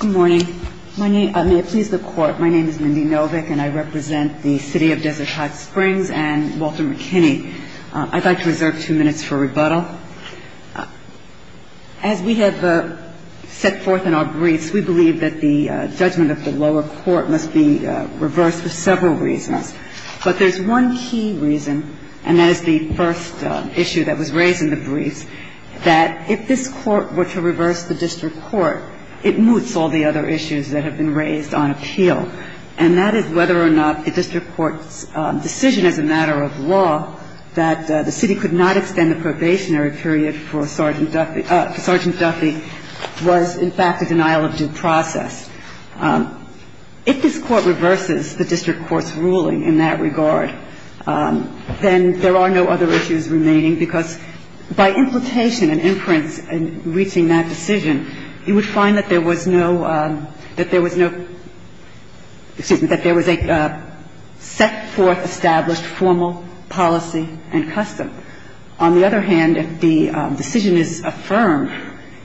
Good morning. May it please the Court, my name is Mindy Novick and I represent the City of Desert Hot Springs and Walter McKinney. I'd like to reserve two minutes for rebuttal. As we have set forth in our briefs, we believe that the judgment of the lower court must be reversed for several reasons. But there's one key reason, and that is the first issue that was raised in the briefs, that if this Court were to reverse the district court, it moots all the other issues that have been raised on appeal. And that is whether or not the district court's decision as a matter of law that the city could not extend the probationary period for Sergeant Duffy was, in fact, a denial of due process. If this Court reverses the district court's ruling in that regard, then there are no other issues remaining, because by imputation and inference in reaching that decision, you would find that there was no – that there was no – excuse me, that there was a set-forth established formal policy and custom. On the other hand, if the decision is affirmed,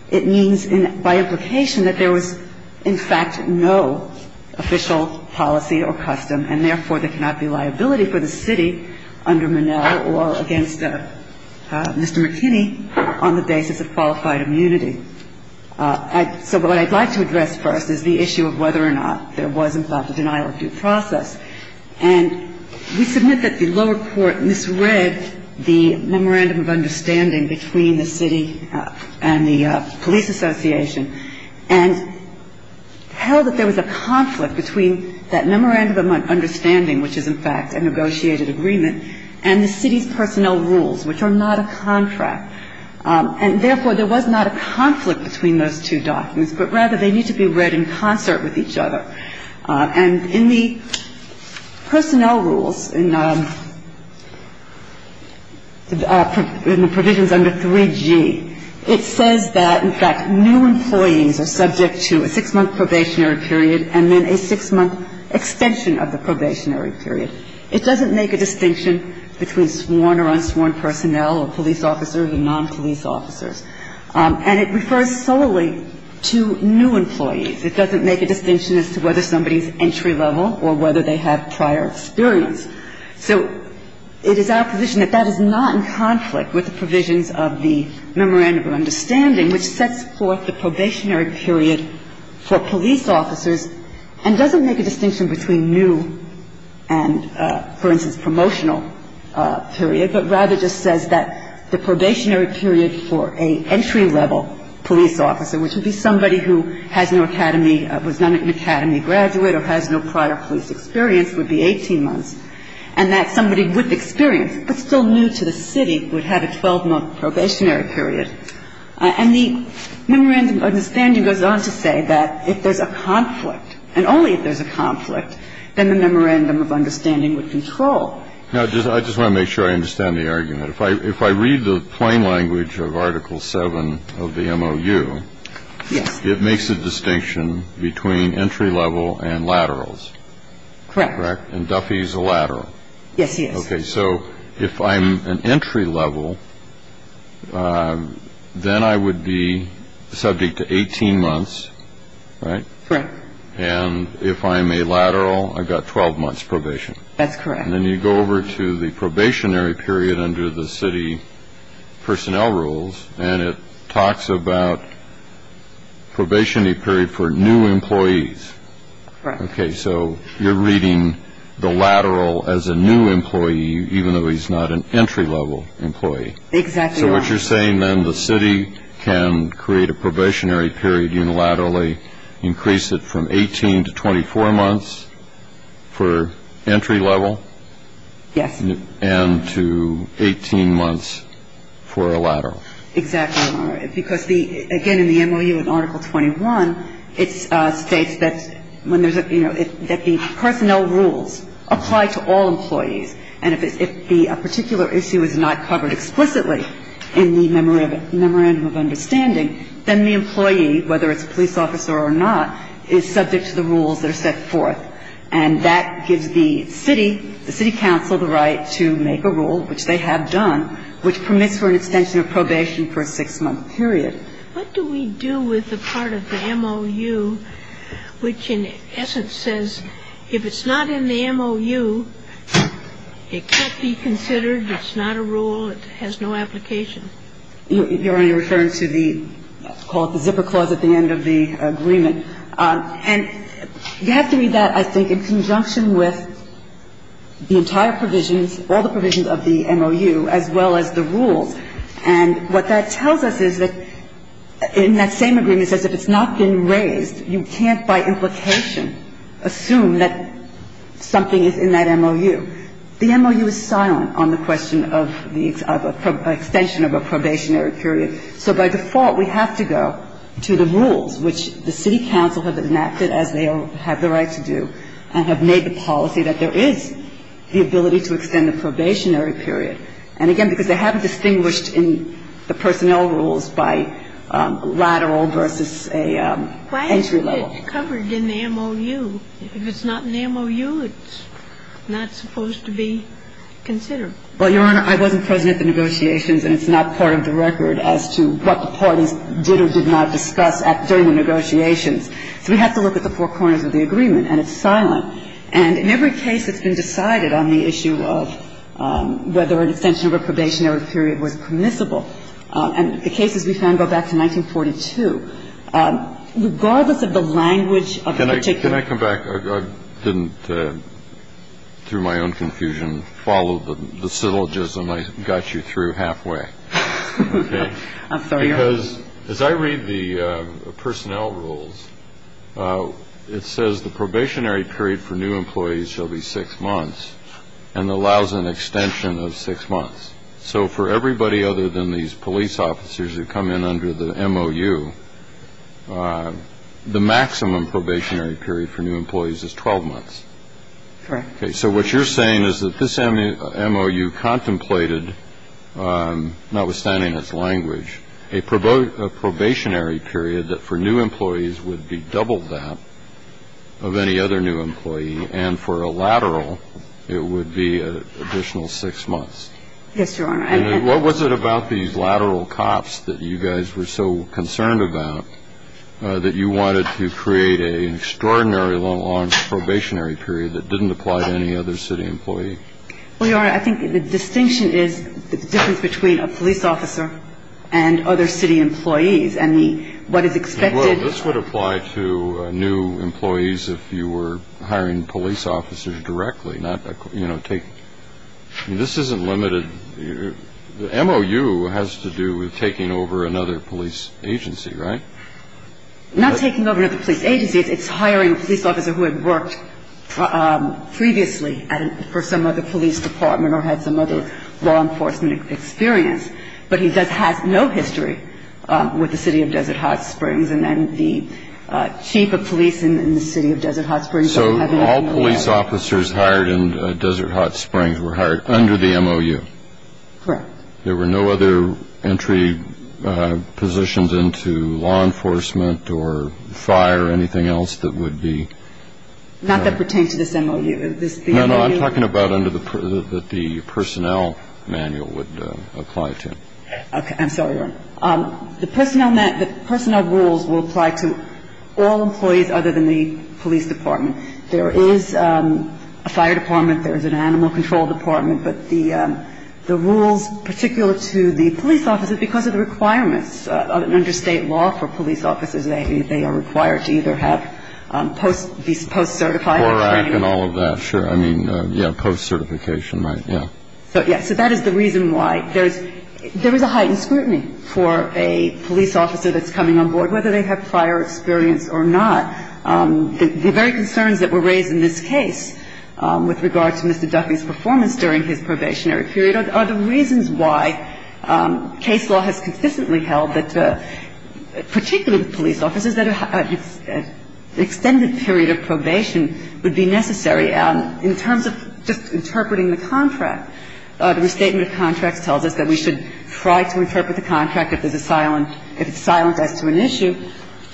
it means by implication that there was, in fact, no official policy or custom, and therefore, there cannot be liability for the city under Monell or against Mr. McKinney on the basis of qualified immunity. So what I'd like to address first is the issue of whether or not there was, in fact, a denial of due process. And we submit that the lower court misread the memorandum of understanding between the city and the police association and held that there was a conflict between that memorandum of understanding, which is, in fact, a negotiated agreement, and the city's personnel rules, which are not a contract. And therefore, there was not a conflict between those two documents, but rather they need to be read in concert with each other. And in the personnel rules, in the provisions under 3G, it says that, in fact, new employees are subject to a six-month probationary period and then a six-month extension of the probationary period. It doesn't make a distinction between sworn or unsworn personnel or police officers and non-police officers. And it refers solely to new employees. It doesn't make a distinction as to whether somebody is entry-level or whether they have prior experience. So it is our position that that is not in conflict with the provisions of the memorandum of understanding, which sets forth the probationary period for police officers and doesn't make a distinction between new and, for instance, promotional period, but rather just says that the probationary period for an entry-level police officer, which would be somebody who has no academy, was not an academy graduate or has no prior police experience, would be 18 months, and that somebody with experience but still new to the city would have a 12-month probationary period. And the memorandum of understanding goes on to say that if there's a conflict, and only if there's a conflict, then the memorandum of understanding would control. Now, I just want to make sure I understand the argument. If I read the plain language of Article 7 of the MOU, it makes a distinction between entry-level and laterals. Correct. And Duffy's a lateral. Yes, he is. Okay. So if I'm an entry-level, then I would be subject to 18 months, right? Correct. And if I'm a lateral, I've got 12 months probation. That's correct. And then you go over to the probationary period under the city personnel rules, and it talks about probationary period for new employees. Right. Okay, so you're reading the lateral as a new employee, even though he's not an entry-level employee. Exactly right. So what you're saying, then, the city can create a probationary period unilaterally, increase it from 18 to 24 months for entry-level. Yes. And to 18 months for a lateral. Exactly right. Because, again, in the MOU in Article 21, it states that when there's a, you know, that the personnel rules apply to all employees. And if a particular issue is not covered explicitly in the memorandum of understanding, then the employee, whether it's a police officer or not, is subject to the rules that are set forth. And that gives the city, the city council, the right to make a rule, which they have done, which permits for an extension of probation for a six-month period. What do we do with the part of the MOU which, in essence, says if it's not in the MOU, it can't be considered, it's not a rule, it has no application? You're only referring to the, call it the zipper clause at the end of the agreement. And you have to read that, I think, in conjunction with the entire provisions, all the provisions of the MOU, as well as the rules. And what that tells us is that in that same agreement, it says if it's not been raised, you can't by implication assume that something is in that MOU. The MOU is silent on the question of the extension of a probationary period. So by default, we have to go to the rules, which the city council have enacted as they have the right to do, and have made the policy that there is the ability to extend the probationary period. And again, because they haven't distinguished in the personnel rules by lateral versus a entry level. But it's covered in the MOU. If it's not in the MOU, it's not supposed to be considered. Well, Your Honor, I wasn't present at the negotiations, and it's not part of the record as to what the parties did or did not discuss during the negotiations. So we have to look at the four corners of the agreement, and it's silent. And in every case that's been decided on the issue of whether an extension of a probationary period was permissible, and the cases we found go back to 1942, regardless of the language of the particular. Can I come back? I didn't, through my own confusion, follow the syllogism I got you through halfway. I'm sorry, Your Honor. Because as I read the personnel rules, it says the probationary period for new employees shall be six months, and allows an extension of six months. So for everybody other than these police officers who come in under the MOU, the maximum probationary period for new employees is 12 months. Correct. Okay. So what you're saying is that this MOU contemplated, notwithstanding its language, a probationary period that for new employees would be double that of any other new employee, and for a lateral, it would be an additional six months. Yes, Your Honor. And what was it about these lateral cops that you guys were so concerned about that you wanted to create an extraordinary long probationary period that didn't apply to any other city employee? Well, Your Honor, I think the distinction is the difference between a police officer and other city employees. I mean, what is expected of them. Well, this would apply to new employees if you were hiring police officers directly, not, you know, take. I mean, this isn't limited. The MOU has to do with taking over another police agency, right? Not taking over another police agency. It's hiring a police officer who had worked previously for some other police department or had some other law enforcement experience. But he does have no history with the City of Desert Hot Springs, and then the chief of police in the City of Desert Hot Springs doesn't have anything to do with that. So police officers hired in Desert Hot Springs were hired under the MOU? Correct. There were no other entry positions into law enforcement or fire or anything else that would be? Not that pertain to this MOU. No, no. I'm talking about under the personnel manual would apply to. Okay. I'm sorry, Your Honor. The personnel rules will apply to all employees other than the police department. There is a fire department. There is an animal control department. But the rules particular to the police officers, because of the requirements under state law for police officers, they are required to either have post-certified training. CORAC and all of that, sure. I mean, yeah, post-certification, right, yeah. So, yeah, so that is the reason why. There is a heightened scrutiny for a police officer that's coming on board, whether they have prior experience or not. The very concerns that were raised in this case with regard to Mr. Duffy's performance during his probationary period are the reasons why case law has consistently held that, particularly with police officers, that an extended period of probation would be necessary. In terms of just interpreting the contract, the Restatement of Contracts tells us that we should try to interpret the contract if there's a silent – if it's silent as to an issue.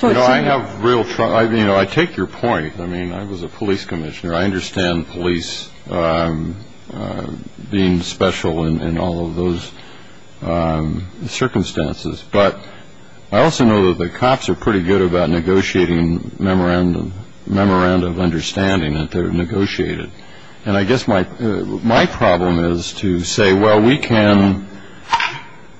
You know, I have real – I mean, you know, I take your point. I mean, I was a police commissioner. I understand police being special in all of those circumstances. But I also know that the cops are pretty good about negotiating memorandum – memorandum of understanding that they're negotiated. And I guess my problem is to say, well, we can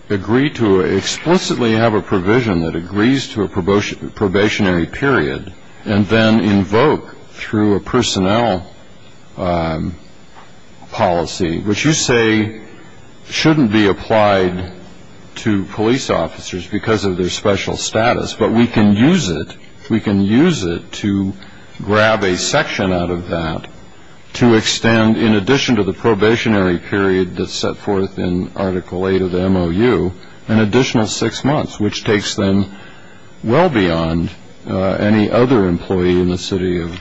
agree to explicitly have a provision that agrees to a probationary period and then invoke through a personnel policy, which you say shouldn't be applied to police officers because of their special status, but we can use it – we can use it to grab a section out of that to extend, in addition to the probationary period that's set forth in Article 8 of the MOU, an additional six months, which takes, then, well beyond any other employee in the city of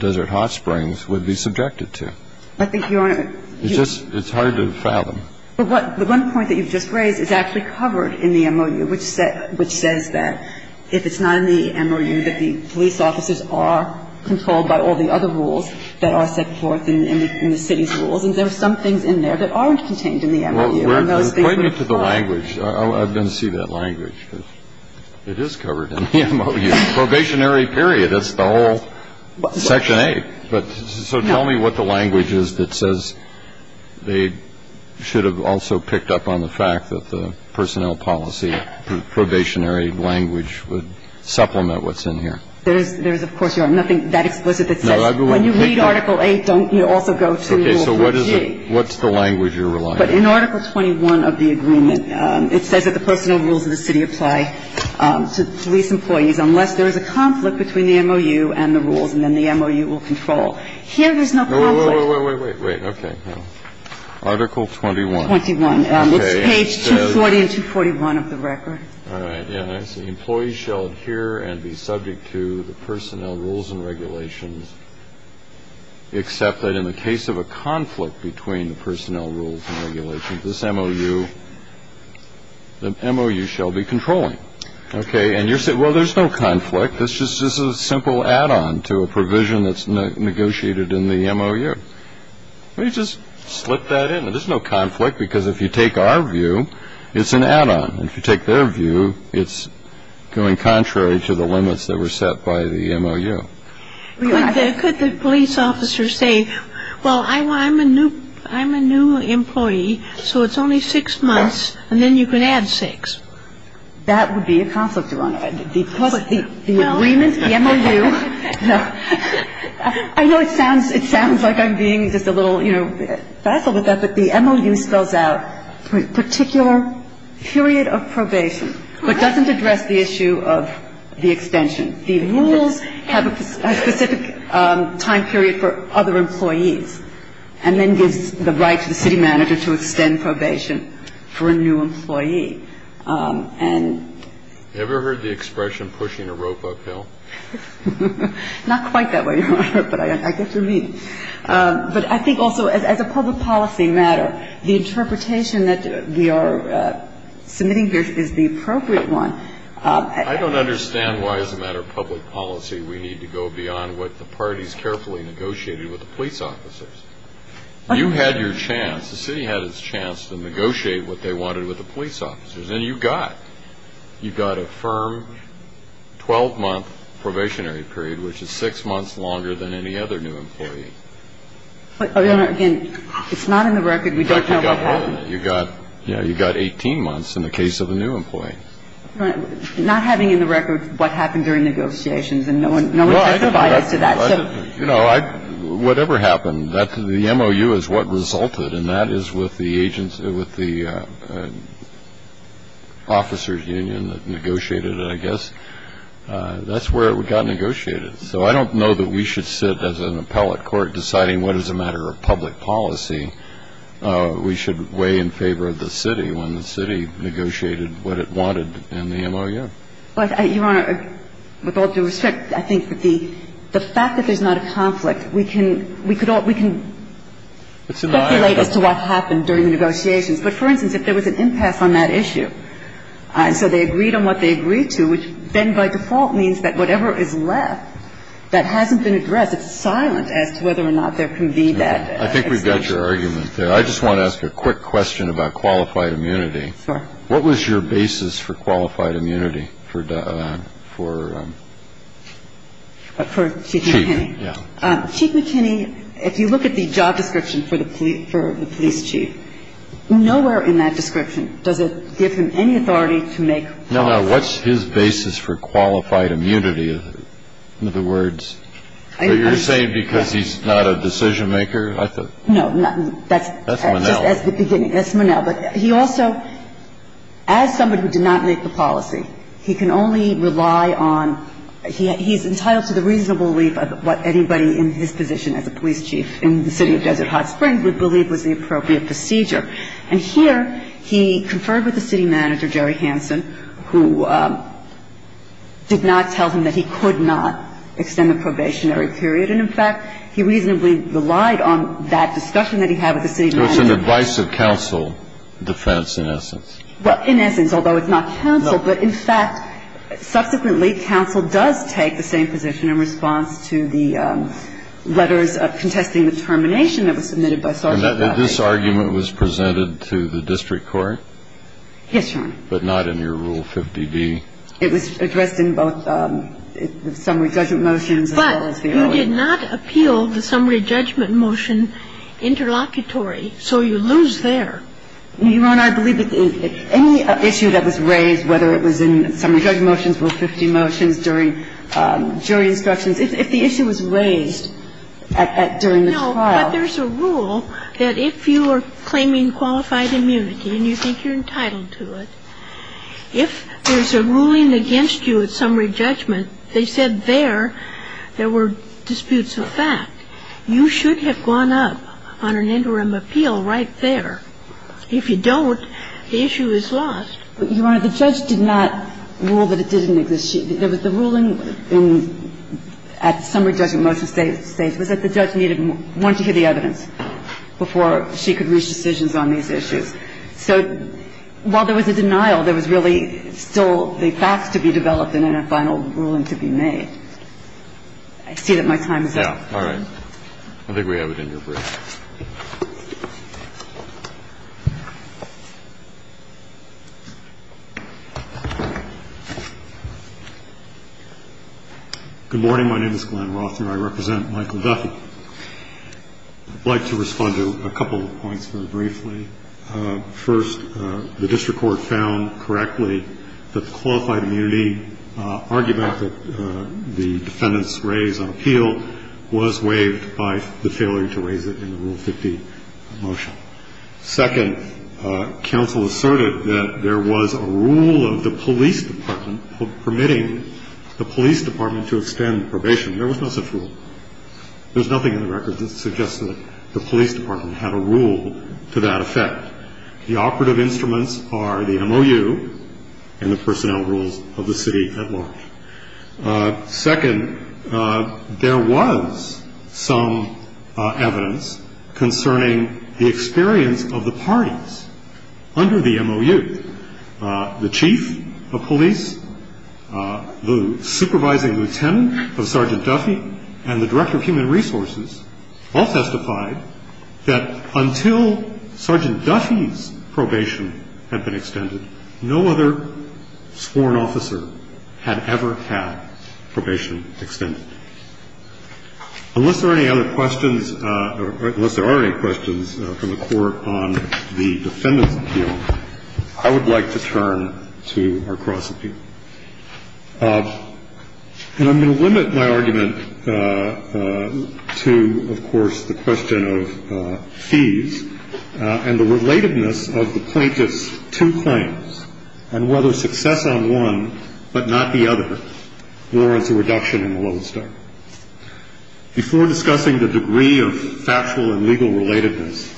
Desert Hot Springs would be subjected to. I think, Your Honor – It's just – it's hard to fathom. But what – the one point that you've just raised is actually covered in the MOU, which says that if it's not in the MOU, that the police officers are controlled by all the other rules that are set forth in the city's rules. And there are some things in there that aren't contained in the MOU. And those things would apply. Point me to the language. I'm going to see that language, because it is covered in the MOU. Probationary period. That's the whole Section 8. But so tell me what the language is that says they should have also picked up on the fact that the personnel policy probationary language would supplement what's in here. There is, of course, Your Honor, nothing that explicit that says when you read Article 8, don't you also go to Rule 4G? So what is it? What's the language you're relying on? But in Article 21 of the agreement, it says that the personnel rules of the city apply to police employees unless there is a conflict between the MOU and the rules, and then the MOU will control. Here, there's no conflict. No, wait, wait, wait, wait. Okay. Article 21. 21. Okay. It's page 240 and 241 of the record. All right. Yeah, I see. Employees shall adhere and be subject to the personnel rules and regulations except that in the case of a conflict between the personnel rules and regulations, this MOU shall be controlling. Okay. And you say, well, there's no conflict. This is just a simple add-on to a provision that's negotiated in the MOU. Well, you just slip that in. There's no conflict because if you take our view, it's an add-on. If you take their view, it's going contrary to the limits that were set by the MOU. Could the police officer say, well, I'm a new employee, so it's only six months, and then you can add six. That would be a conflict, Your Honor. The agreement, the MOU. I know it sounds like I'm being just a little, you know, facile with that, but the MOU spells out particular period of probation, but doesn't address the issue of the extension. The rules have a specific time period for other employees and then gives the right to the city manager to extend probation for a new employee. And you ever heard the expression pushing a rope uphill? Not quite that way, Your Honor, but I get what you mean. But I think also as a public policy matter, the interpretation that we are submitting here is the appropriate one. I don't understand why as a matter of public policy we need to go beyond what the parties carefully negotiated with the police officers. You had your chance. The city had its chance to negotiate what they wanted with the police officers, and you got it. You got a firm 12-month probationary period, which is six months longer than any other new employee. But, Your Honor, again, it's not in the record. We don't know what happened. You got 18 months in the case of a new employee. Not having in the record what happened during negotiations, and no one testified as to that. Whatever happened, the MOU is what resulted, and that is with the officers' union that negotiated it, I guess. That's where it got negotiated. So I don't know that we should sit as an appellate court deciding what is a matter of public policy. We should weigh in favor of the city when the city negotiated what it wanted in the MOU. Your Honor, with all due respect, I think that the fact that there's not a conflict, we can speculate as to what happened during the negotiations. But, for instance, if there was an impasse on that issue, and so they agreed on what they agreed to, which then by default means that whatever is left that hasn't been addressed, it's silent as to whether or not there can be that explanation. I think we've got your argument there. I just want to ask a quick question about qualified immunity. Sure. What was your basis for qualified immunity for Chief McKinney? Yeah. Chief McKinney, if you look at the job description for the police chief, nowhere in that description does it give him any authority to make rules. No. What's his basis for qualified immunity? You're not talking about the chief's authority. In other words, you're saying because he's not a decision-maker. Just as the beginning, that's Monell. But he also, as somebody who did not make the policy, he can only rely on he's entitled to the reasonable relief of what anybody in his position as a police officer would believe was the appropriate procedure. And here he conferred with the city manager, Jerry Hansen, who did not tell him that he could not extend the probationary period. And, in fact, he reasonably relied on that discussion that he had with the city manager. It was an advice of counsel defense, in essence. Well, in essence, although it's not counsel. No. But, in fact, subsequently, counsel does take the same position in response to the letters of contesting the termination that was submitted by Sergeant Patrick. And this argument was presented to the district court? Yes, Your Honor. But not in your Rule 50b? It was addressed in both the summary judgment motions as well as the earlier. But you did not appeal the summary judgment motion interlocutory. So you lose there. I'm not sure if you're referring to the drug motions, Rule 50 motions during jury instructions. If the issue was raised during the trial. No, but there's a rule that if you are claiming qualified immunity and you think you're entitled to it, if there's a ruling against you at summary judgment, they said there, there were disputes of fact. You should have gone up on an interim appeal right there. If you don't, the issue is lost. But, Your Honor, the judge did not rule that it didn't exist. There was the ruling at summary judgment motion stage was that the judge needed more to hear the evidence before she could reach decisions on these issues. So while there was a denial, there was really still the facts to be developed and then a final ruling to be made. I see that my time is up. Yeah. All right. I think we have it in your brief. Good morning. My name is Glenn Roth and I represent Michael Duffy. I'd like to respond to a couple of points very briefly. First, the district court found correctly that the qualified immunity argument the defendants raised on appeal was waived by the failure to raise it in the Rule 50 motion. Second, counsel asserted that there was a rule of the police department permitting the police department to extend probation. There was no such rule. There's nothing in the record that suggests that the police department had a rule to that effect. The operative instruments are the MOU and the personnel rules of the city at large. Second, there was some evidence concerning the experience of the parties under the MOU. The chief of police, the supervising lieutenant of Sergeant Duffy and the director of human resources all testified that until Sergeant Duffy's probation had been extended, no other sworn officer had ever had probation extended. Unless there are any other questions or unless there are any questions from the court on the defendants' appeal, I would like to turn to our cross-appeal. And I'm going to limit my argument to, of course, the question of fees and the relatedness of the plaintiff's two claims and whether success on one, but not the other, warrants a reduction in the loan stock. Before discussing the degree of factual and legal relatedness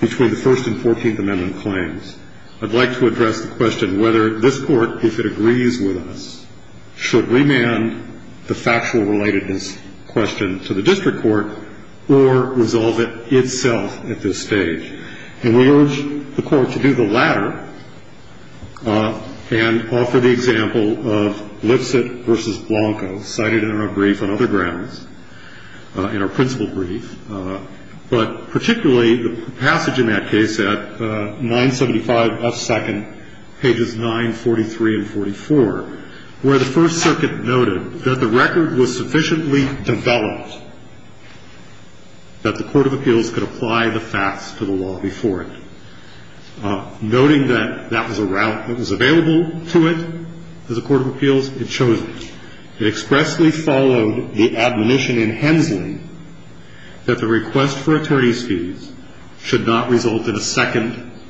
between the First and Fourteenth Amendment claims, I'd like to address the question whether this Court if it agrees with us, should remand the factual relatedness question to the district court or resolve it itself at this stage. And we urge the Court to do the latter and offer the example of Lipset v. Blanco, cited in our brief on other grounds, in our principal brief. But particularly the passage in that case at 975 F. 2nd, pages 943 and 44, where the First Circuit noted that the record was sufficiently developed that the court of appeals could apply the facts to the law before it, noting that that was a route that was available to it, that the court of appeals had chosen. It expressly followed the admonition in Hensley that the request for attorney's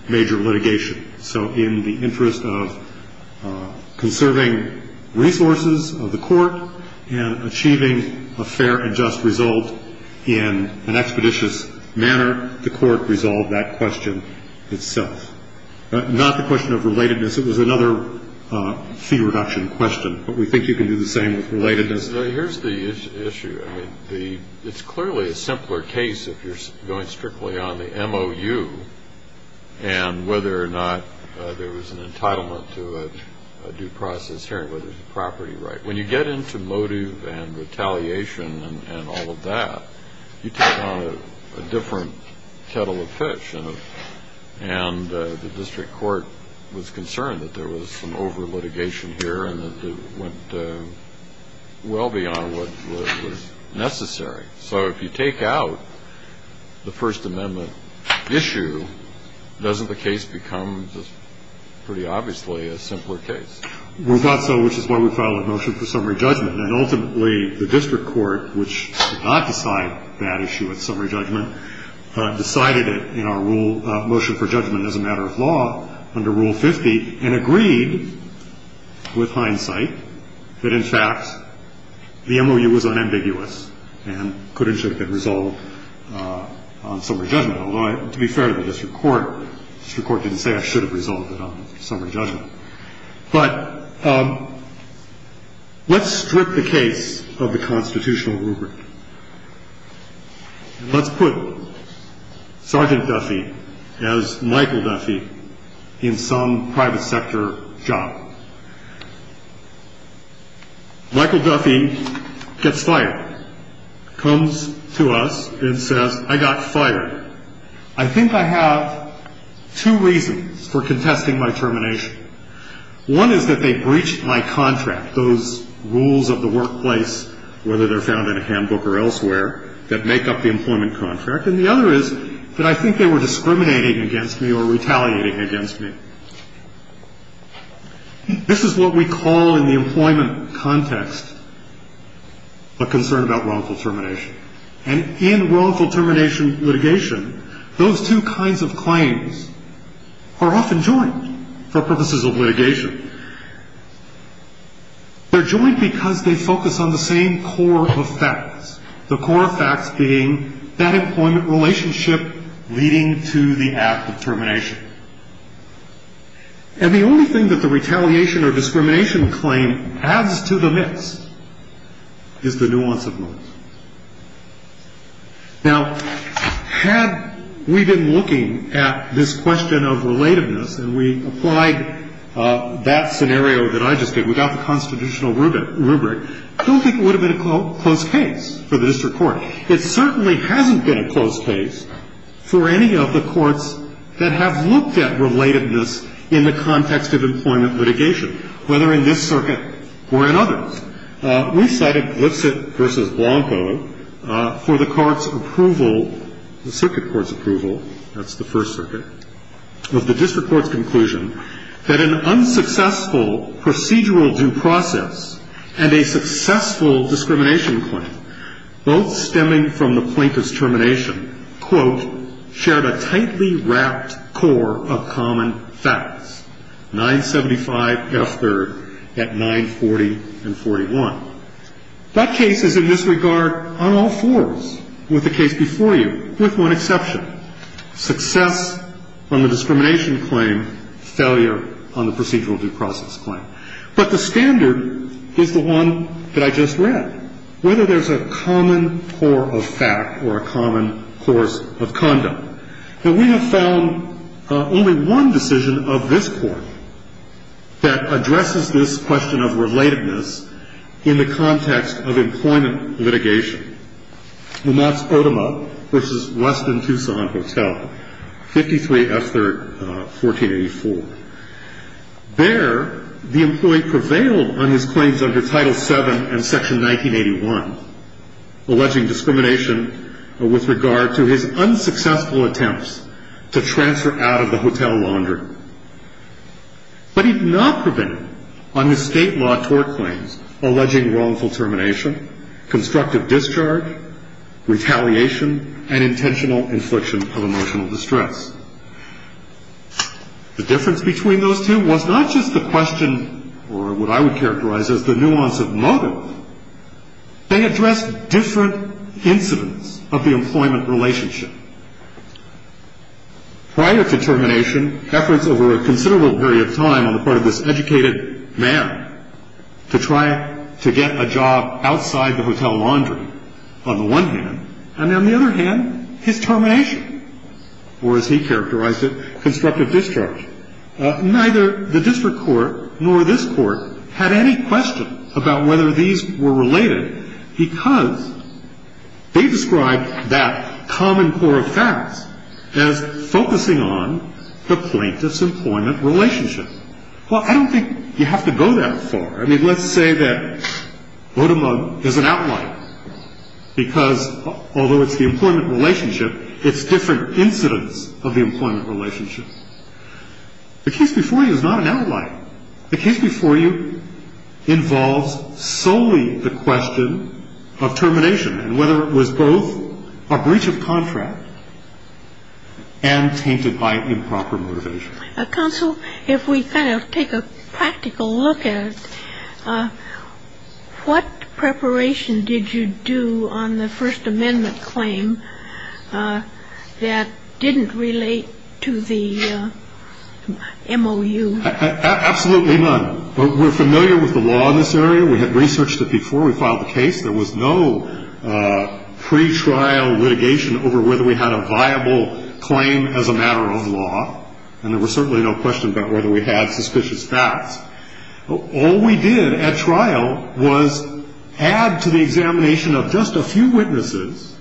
litigation. So in the interest of conserving resources of the court and achieving a fair and just result in an expeditious manner, the court resolved that question itself. Not the question of relatedness. It was another fee reduction question. But we think you can do the same with relatedness. Here's the issue. I mean, it's clearly a simpler case if you're going strictly on the MOU and whether or not there was an entitlement to a due process hearing, whether it's a property right. When you get into motive and retaliation and all of that, you take on a different kettle of fish. And the district court was concerned that there was some over-litigation here and that it went well beyond what was necessary. So if you take out the First Amendment issue, doesn't the case become pretty obviously a simpler case? We thought so, which is why we filed a motion for summary judgment. And ultimately, the district court, which did not decide that issue at summary judgment, decided it in our rule, motion for judgment as a matter of law, under Rule 50, and agreed with hindsight that, in fact, the MOU was unambiguous and could and should have been resolved on summary judgment. Although, to be fair to the district court, the district court didn't say I should have resolved it on summary judgment. But let's strip the case of the constitutional rubric. Let's put Sergeant Duffy as Michael Duffy in some private sector job. Michael Duffy gets fired, comes to us and says, I got fired. I think I have two reasons for contesting my termination. One is that they breached my contract, those rules of the workplace, whether they're found in a handbook or elsewhere, that make up the employment contract. And the other is that I think they were discriminating against me or retaliating against me. This is what we call in the employment context a concern about wrongful termination. And in wrongful termination litigation, those two kinds of claims are often joined for purposes of litigation. They're joined because they focus on the same core of facts, the core of facts being that employment relationship leading to the act of termination. And the only thing that the retaliation or discrimination claim adds to the mix is the nuance of moments. Now, had we been looking at this question of relativeness and we applied that scenario that I just gave without the constitutional rubric, I don't think it would have been a close case for the district court. It certainly hasn't been a close case for any of the courts that have looked at relatedness in the context of employment litigation, whether in this circuit or in others. We cited Blitzett v. Blanco for the court's approval, the circuit court's approval, that's the First Circuit, of the district court's conclusion that an unsuccessful procedural due process and a successful discrimination claim both stemming from the plaintiff's termination, quote, shared a tightly wrapped core of common facts, 975F3rd at 940 and 41. That case is in this regard on all fours with the case before you with one exception, success on the discrimination claim, failure on the procedural due process claim. But the standard is the one that I just read. Whether there's a common core of fact or a common course of condom. And we have found only one decision of this court that addresses this question of relatedness in the context of employment litigation. Lumatz-Odomo v. Weston Tucson Hotel, 53F3rd, 1484. There, the employee prevailed on his claims under Title VII and Section 1981, alleging discrimination with regard to his unsuccessful attempts to transfer out of the hotel laundry. But he did not prevail on his state law tort claims, alleging wrongful termination, constructive discharge, retaliation, and intentional infliction of emotional distress. The difference between those two was not just the question or what I would characterize as the nuance of motive. They addressed different incidents of the employment relationship. Prior to termination, efforts over a considerable period of time on the part of this educated man to try to get a job outside the hotel laundry, on the one hand, and on the other hand, his termination. Or as he characterized it, constructive discharge. Neither the district court nor this court had any question about whether these were related because they described that common core of facts as focusing on the plaintiff's employment relationship. Well, I don't think you have to go that far. I mean, let's say that Odomo is an outlier because, although it's the employment relationship, it's different incidents of the employment relationship. The case before you is not an outlier. The case before you involves solely the question of termination and whether it was both a breach of contract and tainted by improper motivation. Counsel, if we kind of take a practical look at it, what preparation did you do on the First Amendment claim that didn't relate to the MOU? Absolutely none. We're familiar with the law in this area. We had researched it before we filed the case. There was no pretrial litigation over whether we had a viable claim as a matter of law, and there was certainly no question about whether we had suspicious facts. All we did at trial was add to the examination of just a few witnesses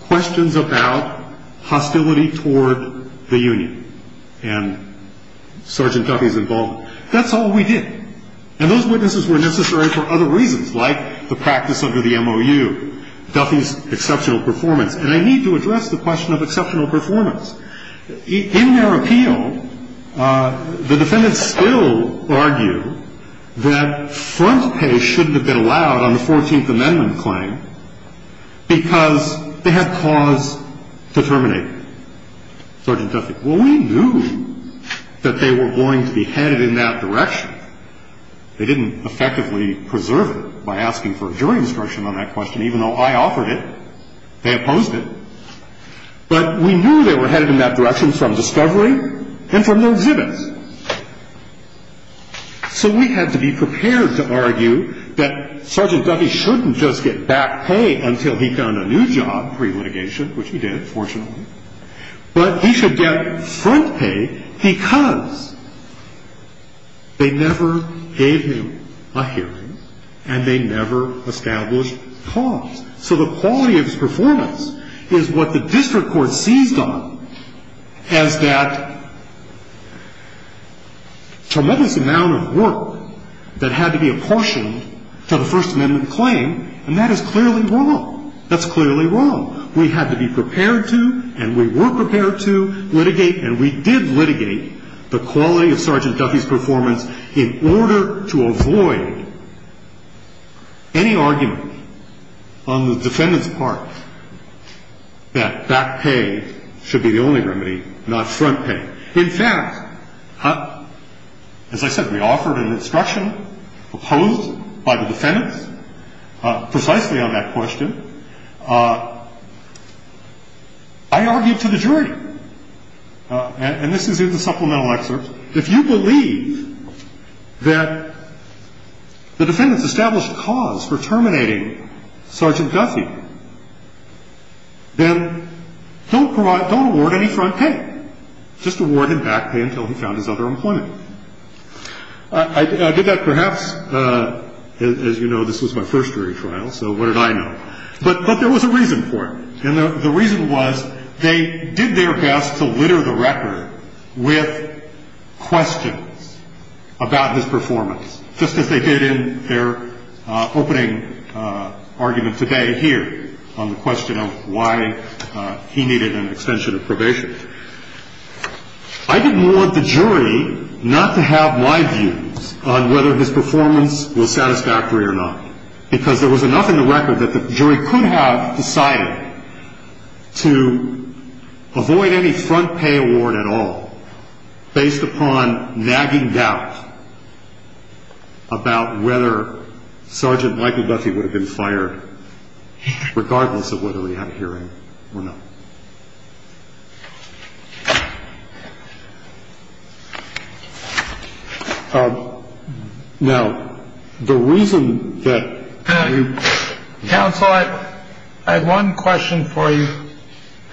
questions about hostility toward the union and Sergeant Duffy's involvement. That's all we did. And those witnesses were necessary for other reasons, like the practice under the MOU, Duffy's exceptional performance. And I need to address the question of exceptional performance. In their appeal, the defendants still argue that front pay shouldn't have been allowed on the Fourteenth Amendment claim because they had cause to terminate it. Sergeant Duffy, well, we knew that they were going to be headed in that direction. They didn't effectively preserve it by asking for a jury instruction on that question, even though I offered it. They opposed it. But we knew they were headed in that direction from discovery and from their exhibits. So we had to be prepared to argue that Sergeant Duffy shouldn't just get back pay until he found a new job pre-litigation, which he did, fortunately, but he should get front pay because they never gave him a hearing and they never established cause. So the quality of his performance is what the district court seized on as that tremendous amount of work that had to be apportioned to the First Amendment claim, and that is clearly wrong. That's clearly wrong. We had to be prepared to and we were prepared to litigate, and we did litigate, the quality of Sergeant Duffy's performance in order to avoid any argument on the defendant's part that that pay should be the only remedy, not front pay. In fact, as I said, we offered an instruction opposed by the defendants precisely on that question. I argued to the jury. And this is in the supplemental excerpt. If you believe that the defendants established cause for terminating Sergeant Duffy, then don't award any front pay. Just award him back pay until he found his other employment. I did that perhaps, as you know, this was my first jury trial, so what did I know? But there was a reason for it. And the reason was they did their best to litter the record with questions about his performance, just as they did in their opening argument today here on the question of why he needed an extension of probation. I did want the jury not to have my views on whether his performance was satisfactory or not, because there was enough in the record that the jury could have decided to avoid any front pay award at all based upon nagging doubt about whether Sergeant Michael Duffy would have been fired, regardless of whether he had a hearing or not. Now, the reason that. Counsel, I have one question for you,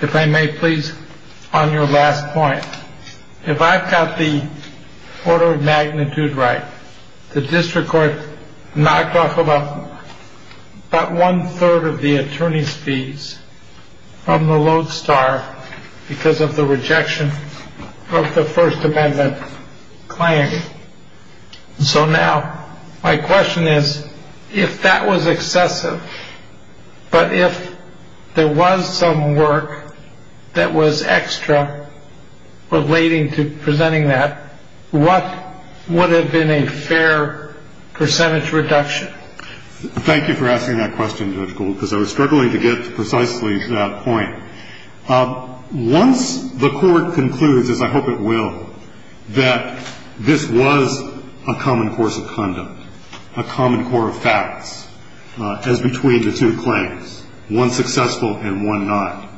if I may, please. On your last point, if I've got the order of magnitude right, the district court knocked off about one third of the attorney's fees from the Lodestar because of the rejection of the First Amendment claim. So now my question is, if that was excessive, but if there was some work that was extra relating to presenting that, what would have been a fair percentage reduction? Thank you for asking that question, Judge Gould, because I was struggling to get precisely to that point. Once the court concludes, as I hope it will, that this was a common course of conduct, a common core of facts as between the two claims, one successful and one not,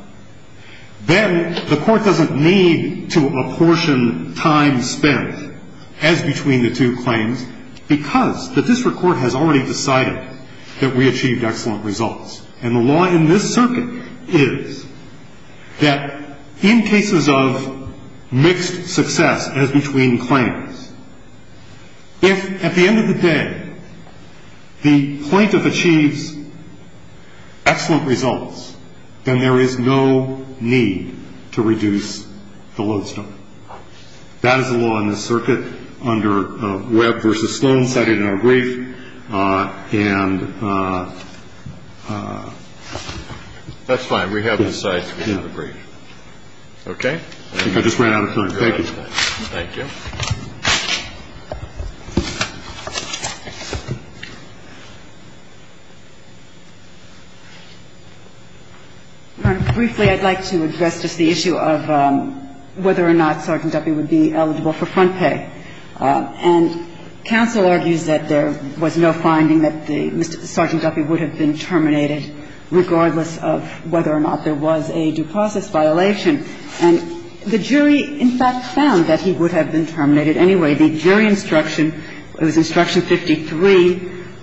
then the court doesn't need to apportion time spent as between the two claims because the district court has already decided that we achieved excellent results. And the law in this circuit is that in cases of mixed success as between claims, if at the end of the day the plaintiff achieves excellent results, then there is no need to reduce the Lodestar. That is the law in this circuit under Webb v. Sloan cited in our brief. And that's fine. We have the sites. We have the brief. Okay. I think I just ran out of time. Thank you. Thank you. Ms. Prelogar. Briefly, I'd like to address just the issue of whether or not Sergeant Duffy would be eligible for front pay. And counsel argues that there was no finding that Sergeant Duffy would have been terminated anyway. The jury instruction, it was instruction 53,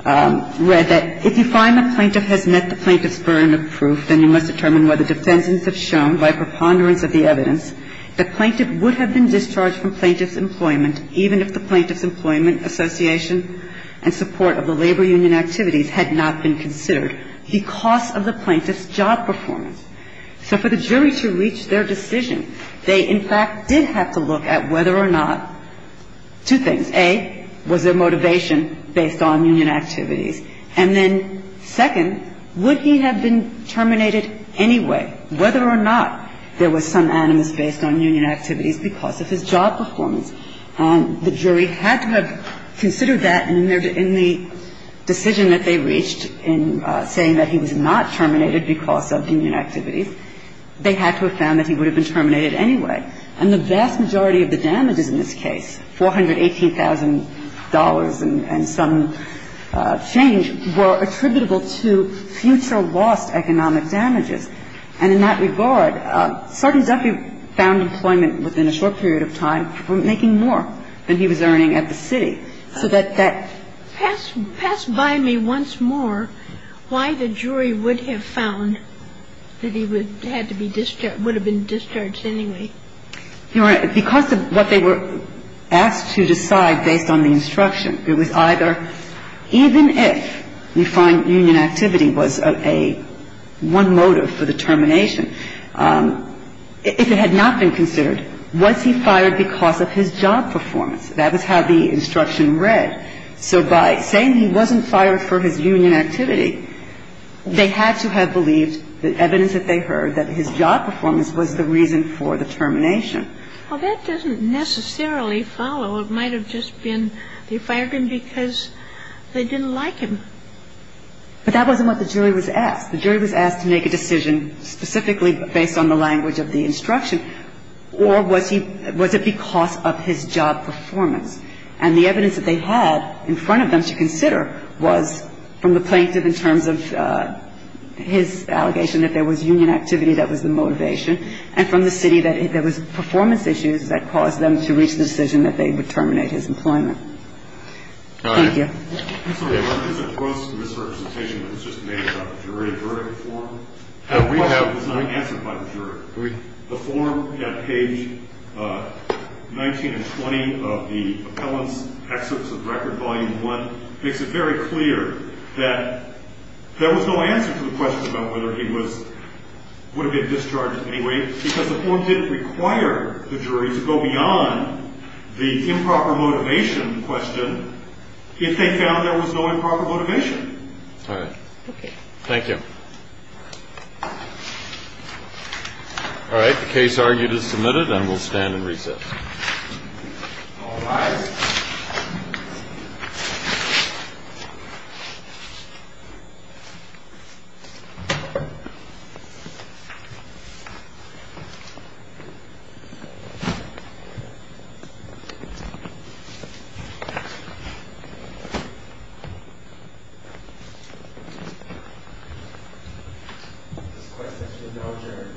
read that if you find the plaintiff has met the plaintiff's burden of proof, then you must determine whether defendants have shown, by preponderance of the evidence, the plaintiff would have been discharged from plaintiff's employment even if the plaintiff's employment association and support of the labor union activities had not been considered because of the plaintiff's job performance. So for the jury to reach their decision, they, in fact, did have to look at whether or not two things. A, was there motivation based on union activities? And then second, would he have been terminated anyway, whether or not there was some animus based on union activities because of his job performance? The jury had to have considered that in the decision that they reached in saying that he was not terminated because of union activities, they had to have found that he would have been terminated anyway. And the vast majority of the damages in this case, $418,000 and some change, were attributable to future lost economic damages. And in that regard, Sergeant Duffy found employment within a short period of time that he was earning at the city. So that that ---- Pass by me once more why the jury would have found that he would have had to be ---- would have been discharged anyway. Your Honor, because of what they were asked to decide based on the instruction, it was either even if we find union activity was a one motive for the termination, if it had not been considered, was he fired because of his job performance? That was how the instruction read. So by saying he wasn't fired for his union activity, they had to have believed the evidence that they heard that his job performance was the reason for the termination. Well, that doesn't necessarily follow. It might have just been they fired him because they didn't like him. But that wasn't what the jury was asked. The jury was asked to make a decision specifically based on the language of the instruction, or was he ---- was it because of his job performance? And the evidence that they had in front of them to consider was from the plaintiff in terms of his allegation that there was union activity that was the motivation and from the city that there was performance issues that caused them to reach the decision that they would terminate his employment. Thank you. There's a gross misrepresentation that was just made about the jury verdict form. The question was not answered by the jury. The form at page 19 and 20 of the appellant's excerpts of record, volume 1, makes it very clear that there was no answer to the question about whether he was ---- would have been discharged anyway because the form didn't require the jury to go beyond the improper motivation question if they found there was no improper motivation. All right. Okay. Thank you. All right. The case argued is submitted and will stand in recess. All rise. This question should now adjourn. Thank you.